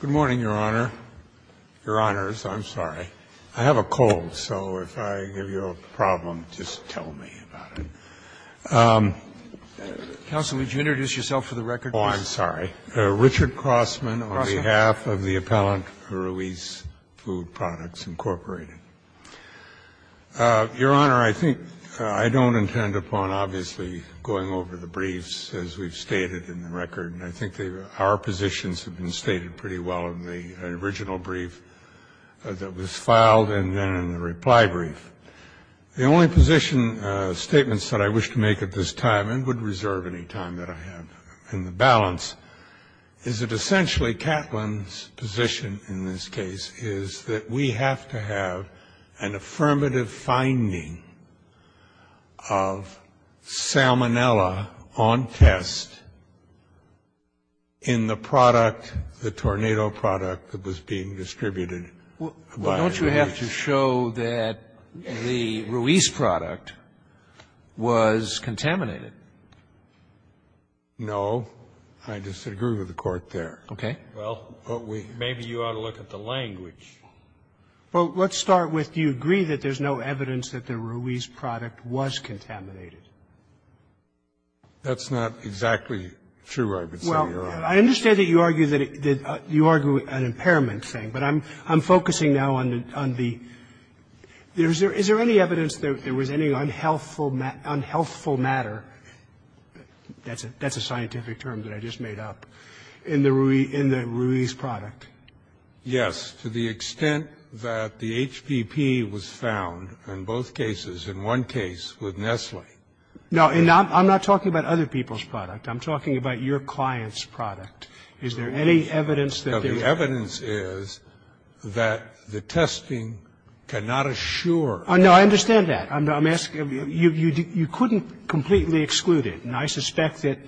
Good morning, Your Honor. Your Honors, I'm sorry. I have a cold, so if I give you a problem, just tell me about it. Counsel, would you introduce yourself for the record, please? Oh, I'm sorry. Richard Crossman, on behalf of the appellant for Ruiz Food Products, Incorporated. Your Honor, I think I don't intend upon obviously going over the briefs as we've been stated pretty well in the original brief that was filed and then in the reply brief. The only position statements that I wish to make at this time, and would reserve any time that I have in the balance, is that essentially Catlin's position in this case is that we have the product, the Tornado product that was being distributed by Ruiz. Well, don't you have to show that the Ruiz product was contaminated? No. I disagree with the Court there. Okay. Well, maybe you ought to look at the language. Well, let's start with do you agree that there's no evidence that the Ruiz product That's not exactly true, I would say, Your Honor. I understand that you argue that you argue an impairment thing, but I'm focusing now on the Is there any evidence that there was any unhealthful matter, that's a scientific term that I just made up, in the Ruiz product? Yes, to the extent that the HPP was found in both cases, in one case with Nestle. No, I'm not talking about other people's product. I'm talking about your client's product. Is there any evidence that there was No, the evidence is that the testing cannot assure No, I understand that. I'm asking, you couldn't completely exclude it, and I suspect that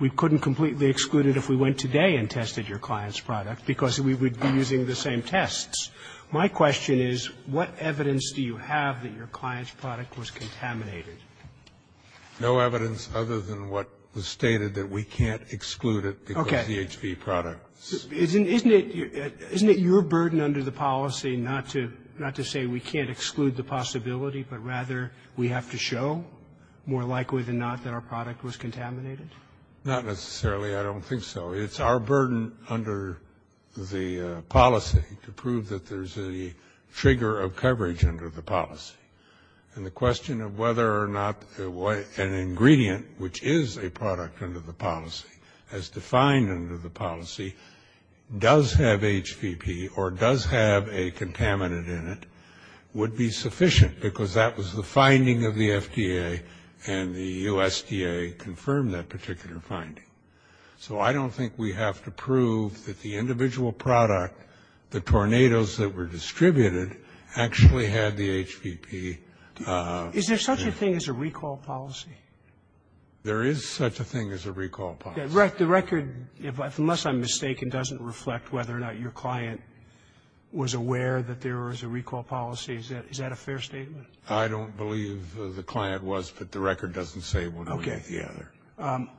we couldn't completely exclude it if we went today and tested your client's product, because we would be using the same tests. My question is, what evidence do you have that your client's product was contaminated? No evidence other than what was stated, that we can't exclude it because of the HPP product. Isn't it your burden under the policy not to say we can't exclude the possibility, but rather we have to show, more likely than not, that our product was contaminated? Not necessarily. I don't think so. It's our burden under the policy to prove that there's a trigger of coverage under the policy, and the question of whether or not an ingredient, which is a product under the policy, as defined under the policy, does have HPP or does have a contaminant in it would be sufficient, because that was the finding of the FDA, and the USDA confirmed that particular finding. So I don't think we have to prove that the individual product, the tornadoes that were contaminated, had HPP. Is there such a thing as a recall policy? There is such a thing as a recall policy. The record, unless I'm mistaken, doesn't reflect whether or not your client was aware that there was a recall policy. Is that a fair statement? I don't believe the client was, but the record doesn't say one way or the other. Okay.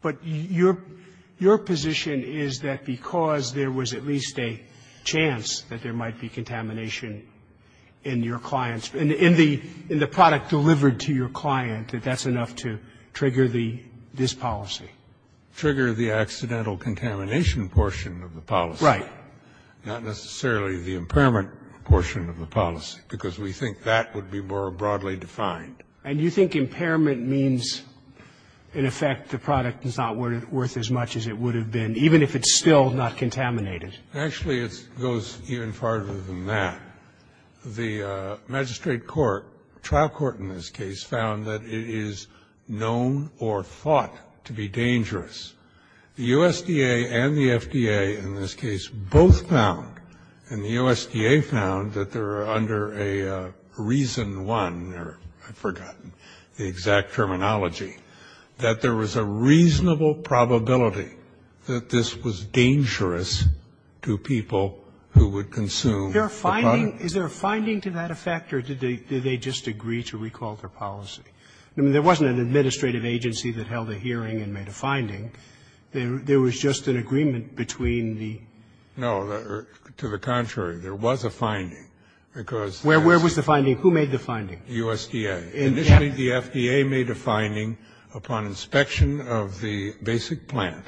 But your position is that because there was at least a chance that there might be contamination in your client's, in the product delivered to your client, that that's enough to trigger this policy? Trigger the accidental contamination portion of the policy. Right. Not necessarily the impairment portion of the policy, because we think that would be more broadly defined. And you think impairment means, in effect, the product is not worth as much as it would have been, even if it's still not contaminated? Actually, it goes even farther than that. The magistrate court, trial court in this case, found that it is known or thought to be dangerous. The USDA and the FDA, in this case, both found, and the USDA found that they're under a reason one, or I've forgotten the exact terminology, that there was a reasonable probability that this was dangerous to people who would consume the product. Is there a finding to that effect, or did they just agree to recall their policy? I mean, there wasn't an administrative agency that held a hearing and made a finding. There was just an agreement between the No, to the contrary. There was a finding, because Where was the finding? Who made the finding? The USDA. Initially, the FDA made a finding upon inspection of the basic plant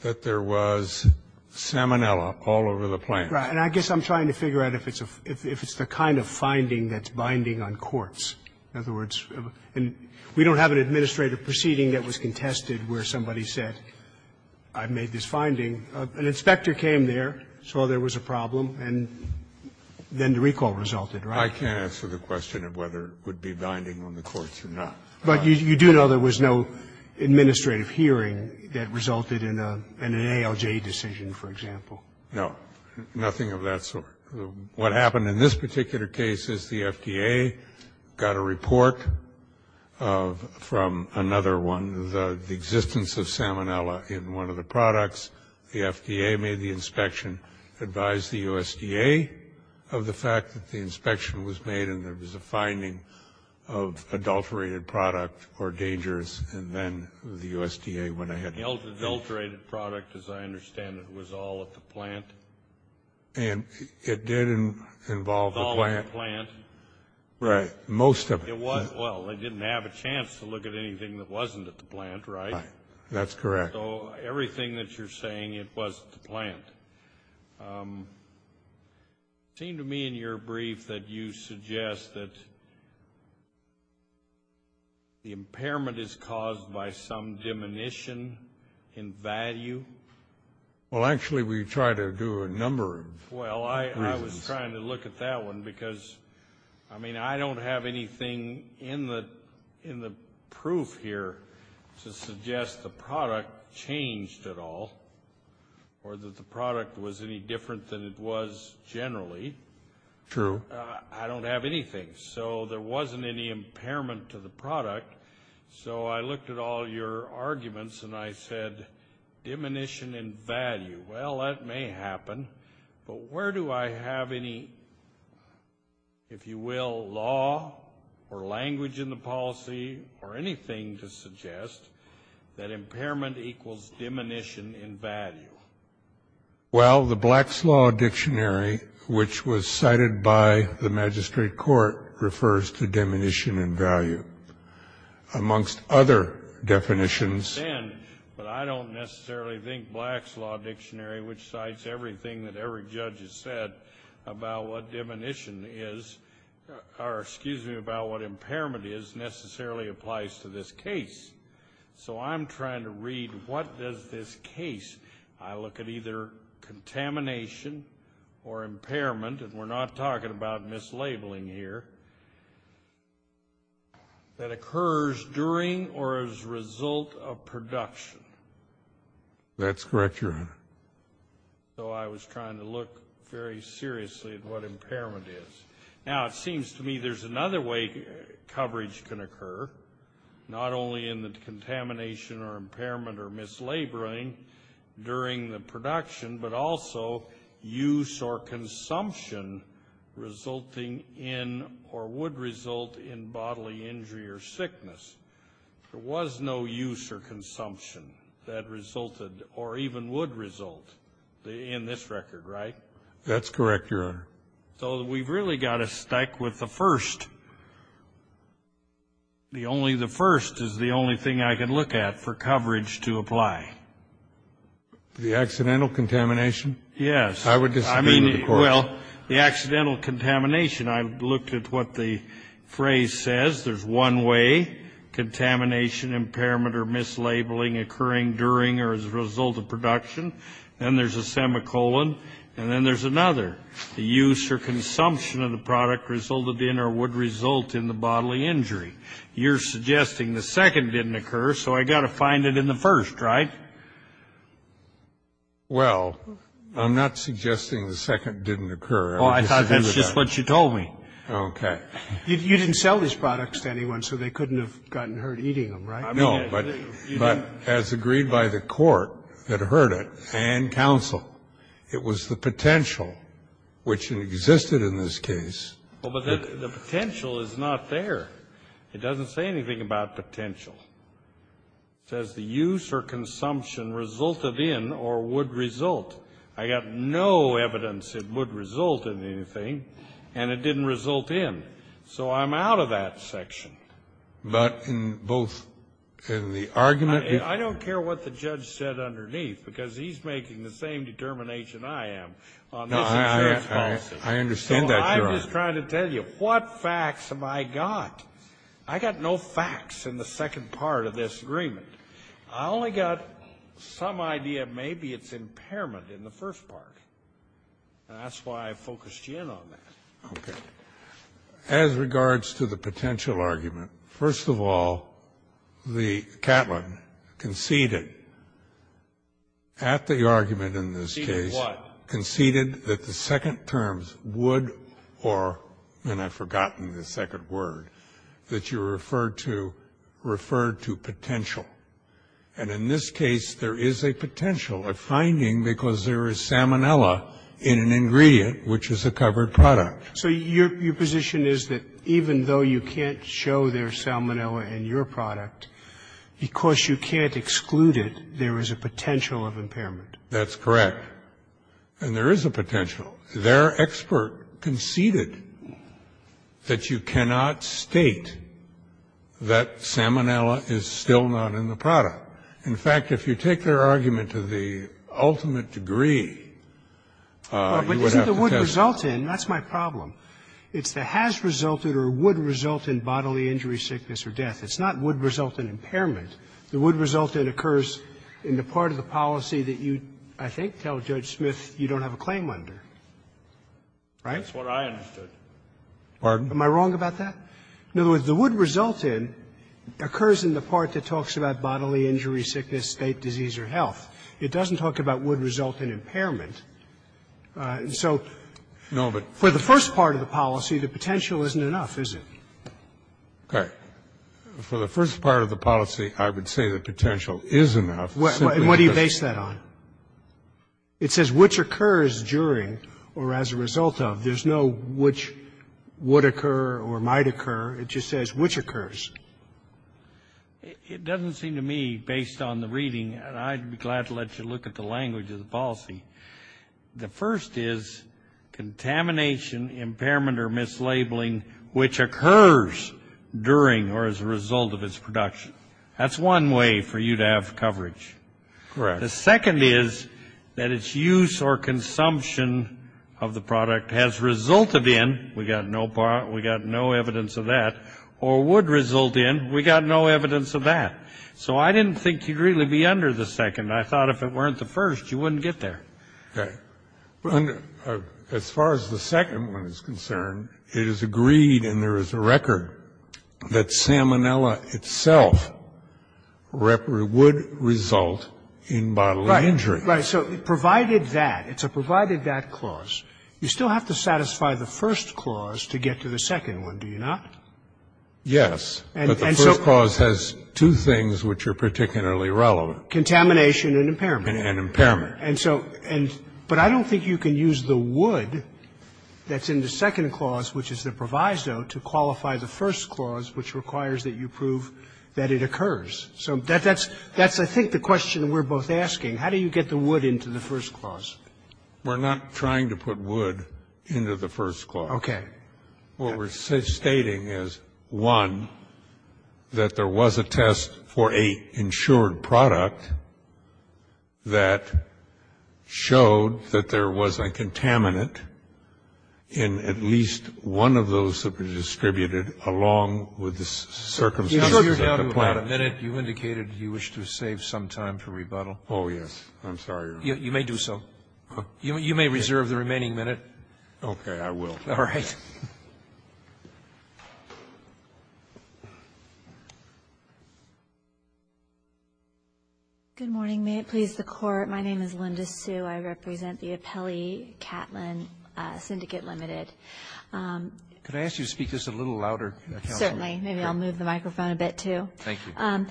that there was salmonella all over the plant. Right. And I guess I'm trying to figure out if it's the kind of finding that's binding on courts. In other words, we don't have an administrative proceeding that was contested where somebody said, I've made this finding. An inspector came there, saw there was a problem, and then the recall resulted, right? I can't answer the question of whether it would be binding on the courts or not. But you do know there was no administrative hearing that resulted in an ALJ decision, for example? No, nothing of that sort. What happened in this particular case is the FDA got a report from another one. The existence of salmonella in one of the products, the FDA made the inspection, advised the USDA of the fact that the inspection was made and there was a finding of adulterated product or dangerous, and then the USDA went ahead. The adulterated product, as I understand it, was all at the plant? And it did involve the plant. Right. Most of it. Well, they didn't have a chance to look at anything that wasn't at the plant, right? That's correct. So everything that you're saying, it was at the plant. It seemed to me in your brief that you suggest that the impairment is caused by some diminution in value. Well, actually, we try to do a number of reasons. Well, I was trying to look at that one because, I mean, I don't have anything in the proof here to suggest the product changed at all or that the product was any different than it was generally. True. I don't have anything. So there wasn't any impairment to the product. So I looked at all your arguments and I said, diminution in value. Well, that may happen, but where do I have any, if you will, law or language in the dictionary which cites anything to suggest that impairment equals diminution in value? Well, the Black's Law Dictionary, which was cited by the Magistrate Court, refers to diminution in value. Amongst other definitions... I understand, but I don't necessarily think Black's Law Dictionary, which cites everything that every judge has said about what diminution is, or excuse me, about what impairment is, necessarily applies to this case. So I'm trying to read what does this case, I look at either contamination or impairment, and we're not talking about mislabeling here, that occurs during or as a result of production. That's correct, Your Honor. So I was trying to look very seriously at what impairment is. Now, it seems to me there's another way coverage can occur, not only in the contamination or impairment or mislabeling during the production, but also use or consumption resulting in or would result in bodily injury or sickness. There was no use or consumption that resulted or even would result in this record, right? That's correct, Your Honor. So we've really got to stick with the first. The first is the only thing I can look at for coverage to apply. The accidental contamination? Yes. I would disagree with the court. Well, the accidental contamination, I looked at what the phrase says. There's one way, contamination, impairment, or mislabeling occurring during or as a result of production. Then there's a semicolon. And then there's another. The use or consumption of the product resulted in or would result in the bodily injury. You're suggesting the second didn't occur, so I got to find it in the first, right? Well, I'm not suggesting the second didn't occur. Oh, I thought that's just what you told me. Okay. You didn't sell these products to anyone, so they couldn't have gotten hurt eating them, right? No, but as agreed by the court that heard it and counsel, it was the potential which existed in this case. Oh, but the potential is not there. It doesn't say anything about potential. It says the use or consumption resulted in or would result. I got no evidence it would result in anything, and it didn't result in. So I'm out of that section. But in both in the argument? I don't care what the judge said underneath, because he's making the same determination I am. No, I understand that. I'm just trying to tell you what facts have I got? I got no facts in the second part of this agreement. I only got some idea. Maybe it's impairment in the first part. That's why I focused you in on that. Okay. As regards to the potential argument, first of all, the Catlin conceded at the argument in this case conceded that the second terms would or and I've forgotten the second word that you referred to referred to potential. And in this case, there is a potential of finding because there is salmonella in an ingredient which is a covered product. So your position is that even though you can't show their salmonella in your product, because you can't exclude it, there is a potential of impairment. That's correct. And there is a potential. Their expert conceded that you cannot state that salmonella is still not in the product. In fact, if you take their argument to the ultimate degree, you would have to test it. Well, but isn't the would result in? That's my problem. It's the has resulted or would result in bodily injury, sickness or death. It's not would result in impairment. The would result in occurs in the part of the policy that you, I think, tell Judge Smith you don't have a claim under. Right? That's what I understood. Pardon? Am I wrong about that? No. The would result in occurs in the part that talks about bodily injury, sickness, state disease or health. It doesn't talk about would result in impairment. So for the first part of the policy, the potential isn't enough, is it? Okay. For the first part of the policy, I would say the potential is enough. And what do you base that on? It says which occurs during or as a result of. There's no which would occur or might occur. It just says which occurs. It doesn't seem to me, based on the reading, and I'd be glad to let you look at the language of the policy. The first is contamination, impairment or mislabeling which occurs during or as a result of its production. That's one way for you to have coverage. Correct. The second is that its use or consumption of the product has resulted in, we got no evidence of that, or would result in, we got no evidence of that. So I didn't think you'd really be under the second. I thought if it weren't the first, you wouldn't get there. Okay. As far as the second one is concerned, it is agreed, and there is a record, that salmonella itself would result in bodily injury. Right. So provided that, it's a provided that clause, you still have to satisfy the first clause to get to the second one, do you not? Yes, but the first clause has two things which are particularly relevant. Contamination and impairment. And impairment. And so, but I don't think you can use the would that's in the second clause, which is the proviso, to qualify the first clause which requires that you prove that it occurs. So that's, I think, the question we're both asking. How do you get the would into the first clause? We're not trying to put would into the first clause. Okay. What we're stating is, one, that there was a test for a insured product that showed that there was a contaminant in at least one of those that were distributed along with the circumstances of the plant. You indicated you wish to save some time for rebuttal. Oh, yes. I'm sorry. You may do so. You may reserve the remaining minute. Okay. I will. All right. Good morning. May it please the Court. My name is Linda Sue. I represent the Appellee Catlin Syndicate Limited. Could I ask you to speak just a little louder, counsel? Certainly. Maybe I'll move the microphone a bit, too. Thank you.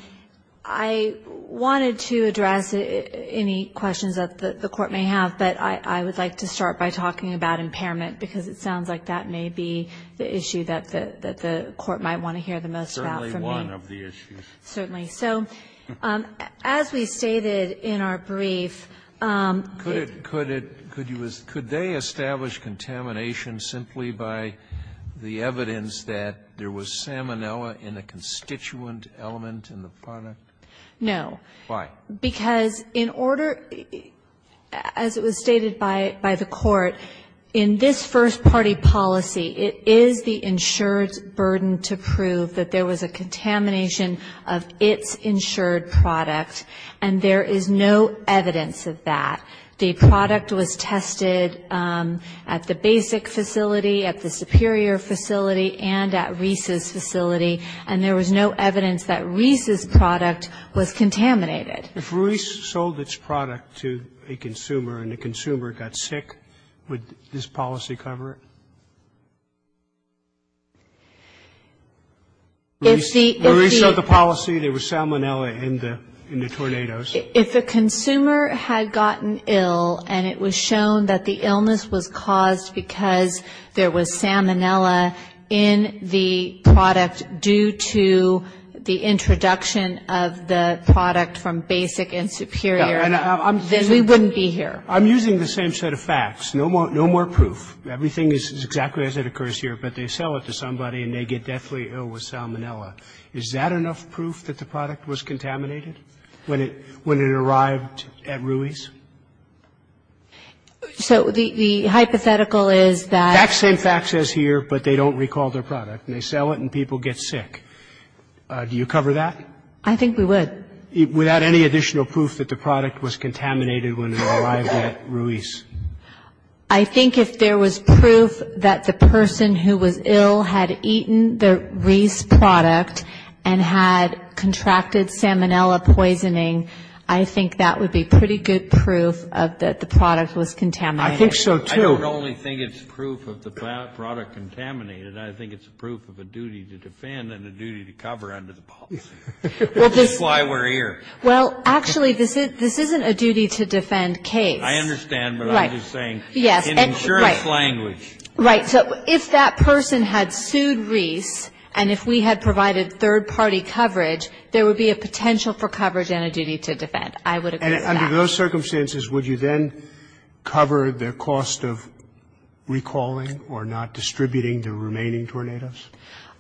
I wanted to address any questions that the Court may have, but I would like to start by talking about impairment, because it sounds like that may be the issue that the Court might want to hear the most about for me. Certainly one of the issues. Certainly. So as we stated in our brief, the ---- Could it, could it, could you, could they establish contamination simply by the evidence that there was salmonella in a constituent element in the product? No. Why? Because in order, as it was stated by the Court, in this first-party policy, it is the insured's burden to prove that there was a contamination of its insured product, and there is no evidence of that. The product was tested at the basic facility, at the superior facility, and at Reese's If Reese's sold its product to a consumer and the consumer got sick, would this policy cover it? If the ---- If Reese's sold the policy, there was salmonella in the, in the tornadoes. If a consumer had gotten ill and it was shown that the illness was caused because there was salmonella in the product due to the introduction of the product from basic and superior, then we wouldn't be here. I'm using the same set of facts. No more, no more proof. Everything is exactly as it occurs here, but they sell it to somebody and they get deathly ill with salmonella. Is that enough proof that the product was contaminated when it, when it arrived at Ruiz? So the, the hypothetical is that ---- The exact same fact says here, but they don't recall their product. They sell it and people get sick. Do you cover that? I think we would. Without any additional proof that the product was contaminated when it arrived at Ruiz? I think if there was proof that the person who was ill had eaten the Ruiz product and had contracted salmonella poisoning, I think that would be pretty good proof of that the product was contaminated. I think so, too. I don't only think it's proof of the product contaminated. I think it's proof of a duty to defend and a duty to cover under the policy. That's why we're here. Well, actually, this isn't a duty to defend case. I understand, but I'm just saying in insurance language. Right. So if that person had sued Ruiz and if we had provided third-party coverage, there would be a potential for coverage and a duty to defend. I would agree with that. Under those circumstances, would you then cover the cost of recalling or not distributing the remaining tornadoes?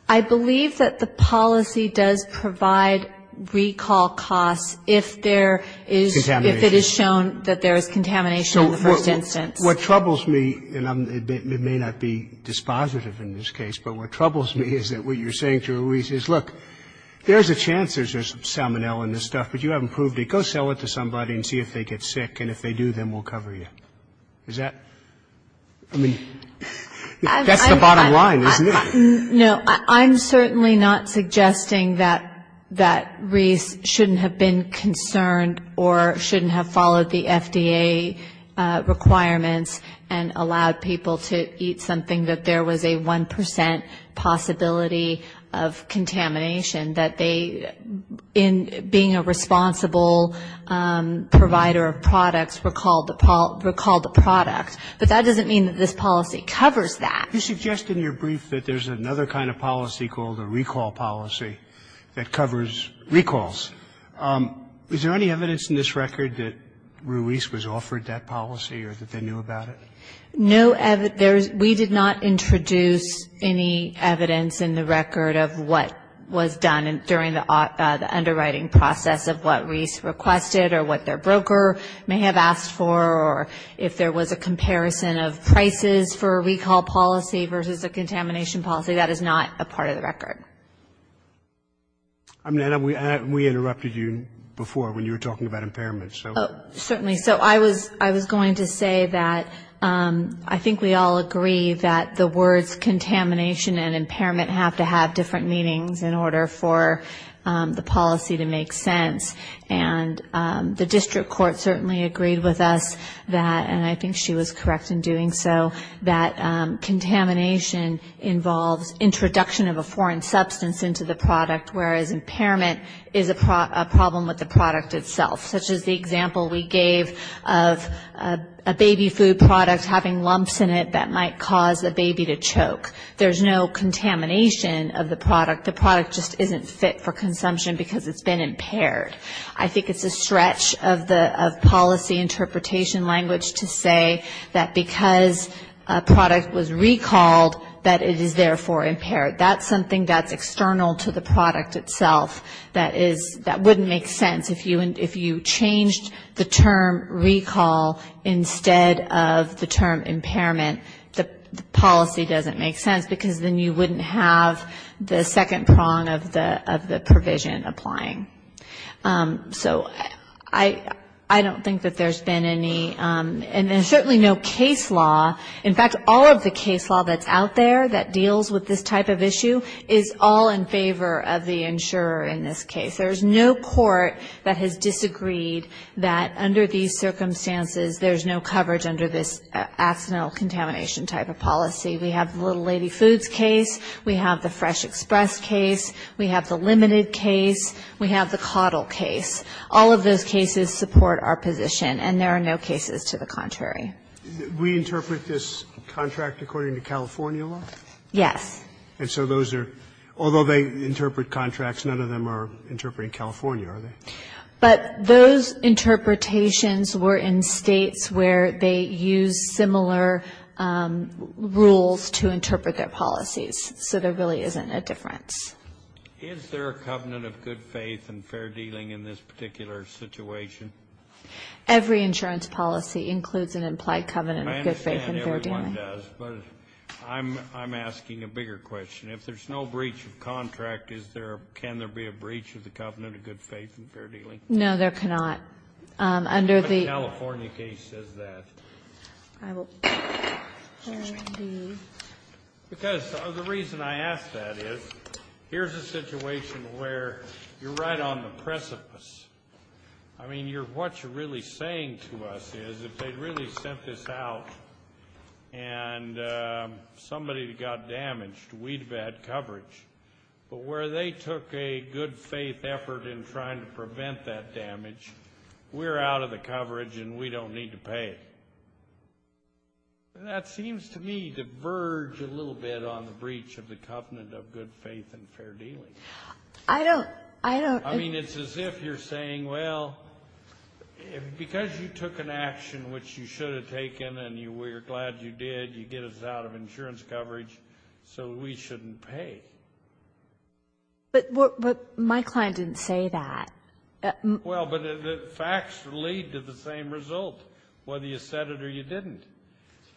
I believe that the policy does provide recall costs if it is shown that there is contamination in the first instance. What troubles me, and it may not be dispositive in this case, but what troubles me is that what you're saying to Ruiz is, look, there's a chance there's salmonella in this stuff, but you haven't proved it. Go sell it to somebody and see if they get sick, and if they do, then we'll cover you. Is that? I mean, that's the bottom line, isn't it? No, I'm certainly not suggesting that Ruiz shouldn't have been concerned or shouldn't have followed the FDA requirements and allowed people to eat something that there was a 1 percent possibility of contamination, that they, in being a responsible provider of products, recalled the product. But that doesn't mean that this policy covers that. You suggest in your brief that there's another kind of policy called a recall policy that covers recalls. Is there any evidence in this record that Ruiz was offered that policy or that they knew about it? No, we did not introduce any evidence in the record of what was done during the underwriting process of what Ruiz requested or what their broker may have asked for or if there was a comparison of prices for a recall policy versus a contamination policy. That is not a part of the record. And we interrupted you before when you were talking about impairments. Certainly. So I was going to say that I think we all agree that the words contamination and impairment have to have different meanings in order for the policy to make sense. And the district court certainly agreed with us that, and I think she was correct in doing so, that contamination involves introduction of a foreign substance into the product, whereas impairment is a problem with the product itself, such as the example we gave of a baby food product having lumps in it that might cause a baby to choke. There's no contamination of the product. The product just isn't fit for consumption because it's been impaired. I think it's a stretch of policy interpretation language to say that because a product was recalled that it is therefore impaired. That's something that's external to the product itself that wouldn't make sense if you changed the term recall instead of the term impairment. The policy doesn't make sense because then you wouldn't have the second prong of the provision applying. So I don't think that there's been any, and there's certainly no case law. In fact, all of the case law that's out there that deals with this type of issue is all in favor of the insurer in this case. There's no court that has disagreed that under these circumstances there's no coverage under this accidental contamination type of policy. We have the little lady foods case. We have the fresh express case. We have the limited case. We have the caudal case. All of those cases support our position, and there are no cases to the contrary. We interpret this contract according to California law? Yes. And so those are, although they interpret contracts, none of them are interpreting California, are they? But those interpretations were in States where they used similar rules to interpret their policies, so there really isn't a difference. Is there a covenant of good faith and fair dealing in this particular situation? Every insurance policy includes an implied covenant of good faith and fair dealing. I'm asking a bigger question. If there's no breach of contract, is there, can there be a breach of the covenant of good faith and fair dealing? No, there cannot. Under the California case says that. Because the reason I ask that is here's a situation where you're right on the precipice. I mean, what you're really saying to us is if they'd really sent this out and somebody got damaged, we'd have had coverage. But where they took a good faith effort in trying to prevent that damage, we're out of the coverage and we don't need to pay it. That seems to me to verge a little bit on the breach of the covenant of good faith and fair dealing. I don't, I don't. I mean, it's as if you're saying, well, because you took an action which you should have taken and you were glad you did, you get us out of insurance coverage, so we shouldn't pay. But my client didn't say that. Well, but the facts lead to the same result, whether you said it or you didn't.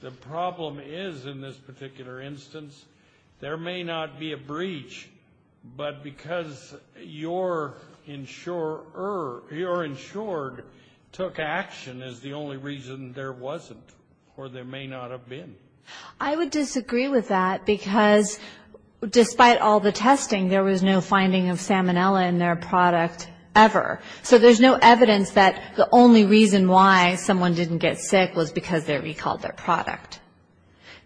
The problem is in this particular instance, there may not be a breach, but because your insurer, your insured took action as the only reason there wasn't, or there may not have been. I would disagree with that because despite all the testing, there was no finding of salmonella in their product ever. So there's no evidence that the only reason why someone didn't get sick was because they recalled their product.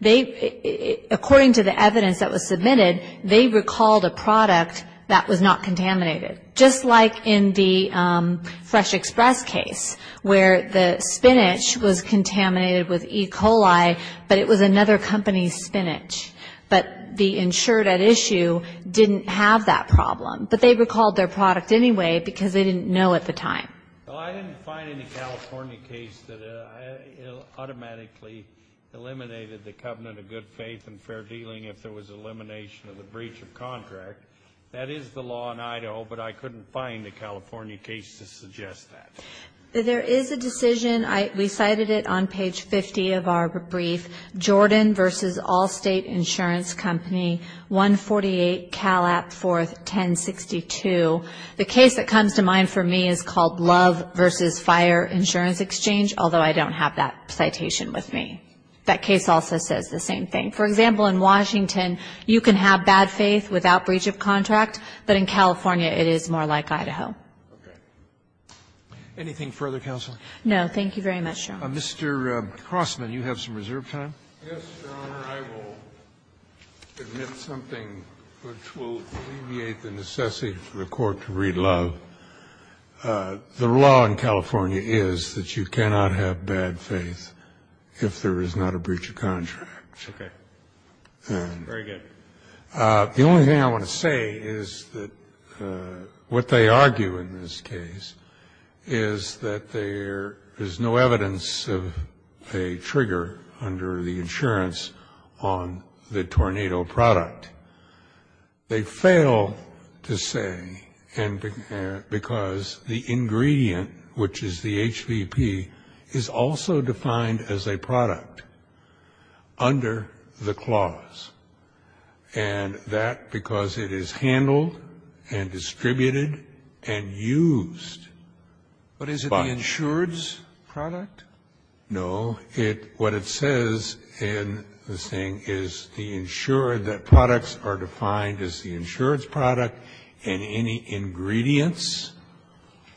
They, according to the evidence that was submitted, they recalled a product that was not contaminated. Just like in the Fresh Express case where the spinach was contaminated with E. coli, but it was another company's spinach. But the insured at issue didn't have that problem. But they recalled their product anyway because they didn't know at the time. Well, I didn't find any California case that it automatically eliminated the covenant of good faith and fair dealing if there was elimination of the breach of contract. That is the law in Idaho, but I couldn't find a California case to suggest that. There is a decision. I recited it on page 50 of our brief. Jordan versus Allstate Insurance Company, 148 Cal App 4, 1062. The case that comes to mind for me is called Love versus Fire Insurance Exchange, although I don't have that citation with me. That case also says the same thing. For example, in Washington, you can have bad faith without breach of contract, but in California, it is more like Idaho. Okay. Anything further, counsel? No. Thank you very much, Your Honor. Mr. Crossman, you have some reserve time. Yes, Your Honor. I will admit something which will alleviate the necessity for the Court to read Love. The law in California is that you cannot have bad faith if there is not a breach of contract. Okay. Very good. The only thing I want to say is that what they argue in this case is that there is no evidence of a trigger under the insurance on the tornado product. They fail to say because the ingredient, which is the HVP, is also defined as a product under the clause, and that because it is handled and distributed and used by the insurer. But is it the insured's product? No. What it says in this thing is the insured, that products are defined as the insured's product, and any ingredients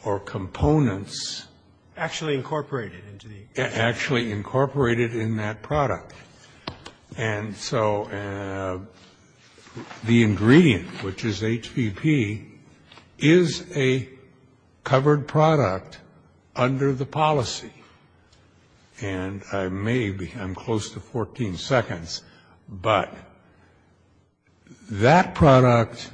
or components. Actually incorporated into the insurance. Actually incorporated in that product. And so the ingredient, which is HVP, is a covered product under the policy. And I may be, I'm close to 14 seconds, but that product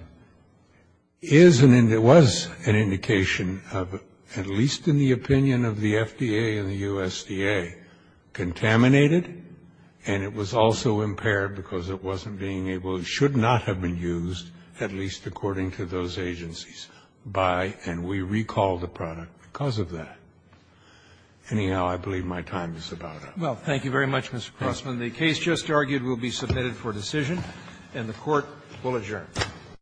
is, and it was an indication of, at least in the opinion of the FDA and the USDA, contaminated, and it was also impaired because it wasn't being able, it should not have been used, at least according to those agencies, by, and we recall the product because of that. Anyhow, I believe my time is about up. Well, thank you very much, Mr. Crossman. The case just argued will be submitted for decision, and the Court will adjourn.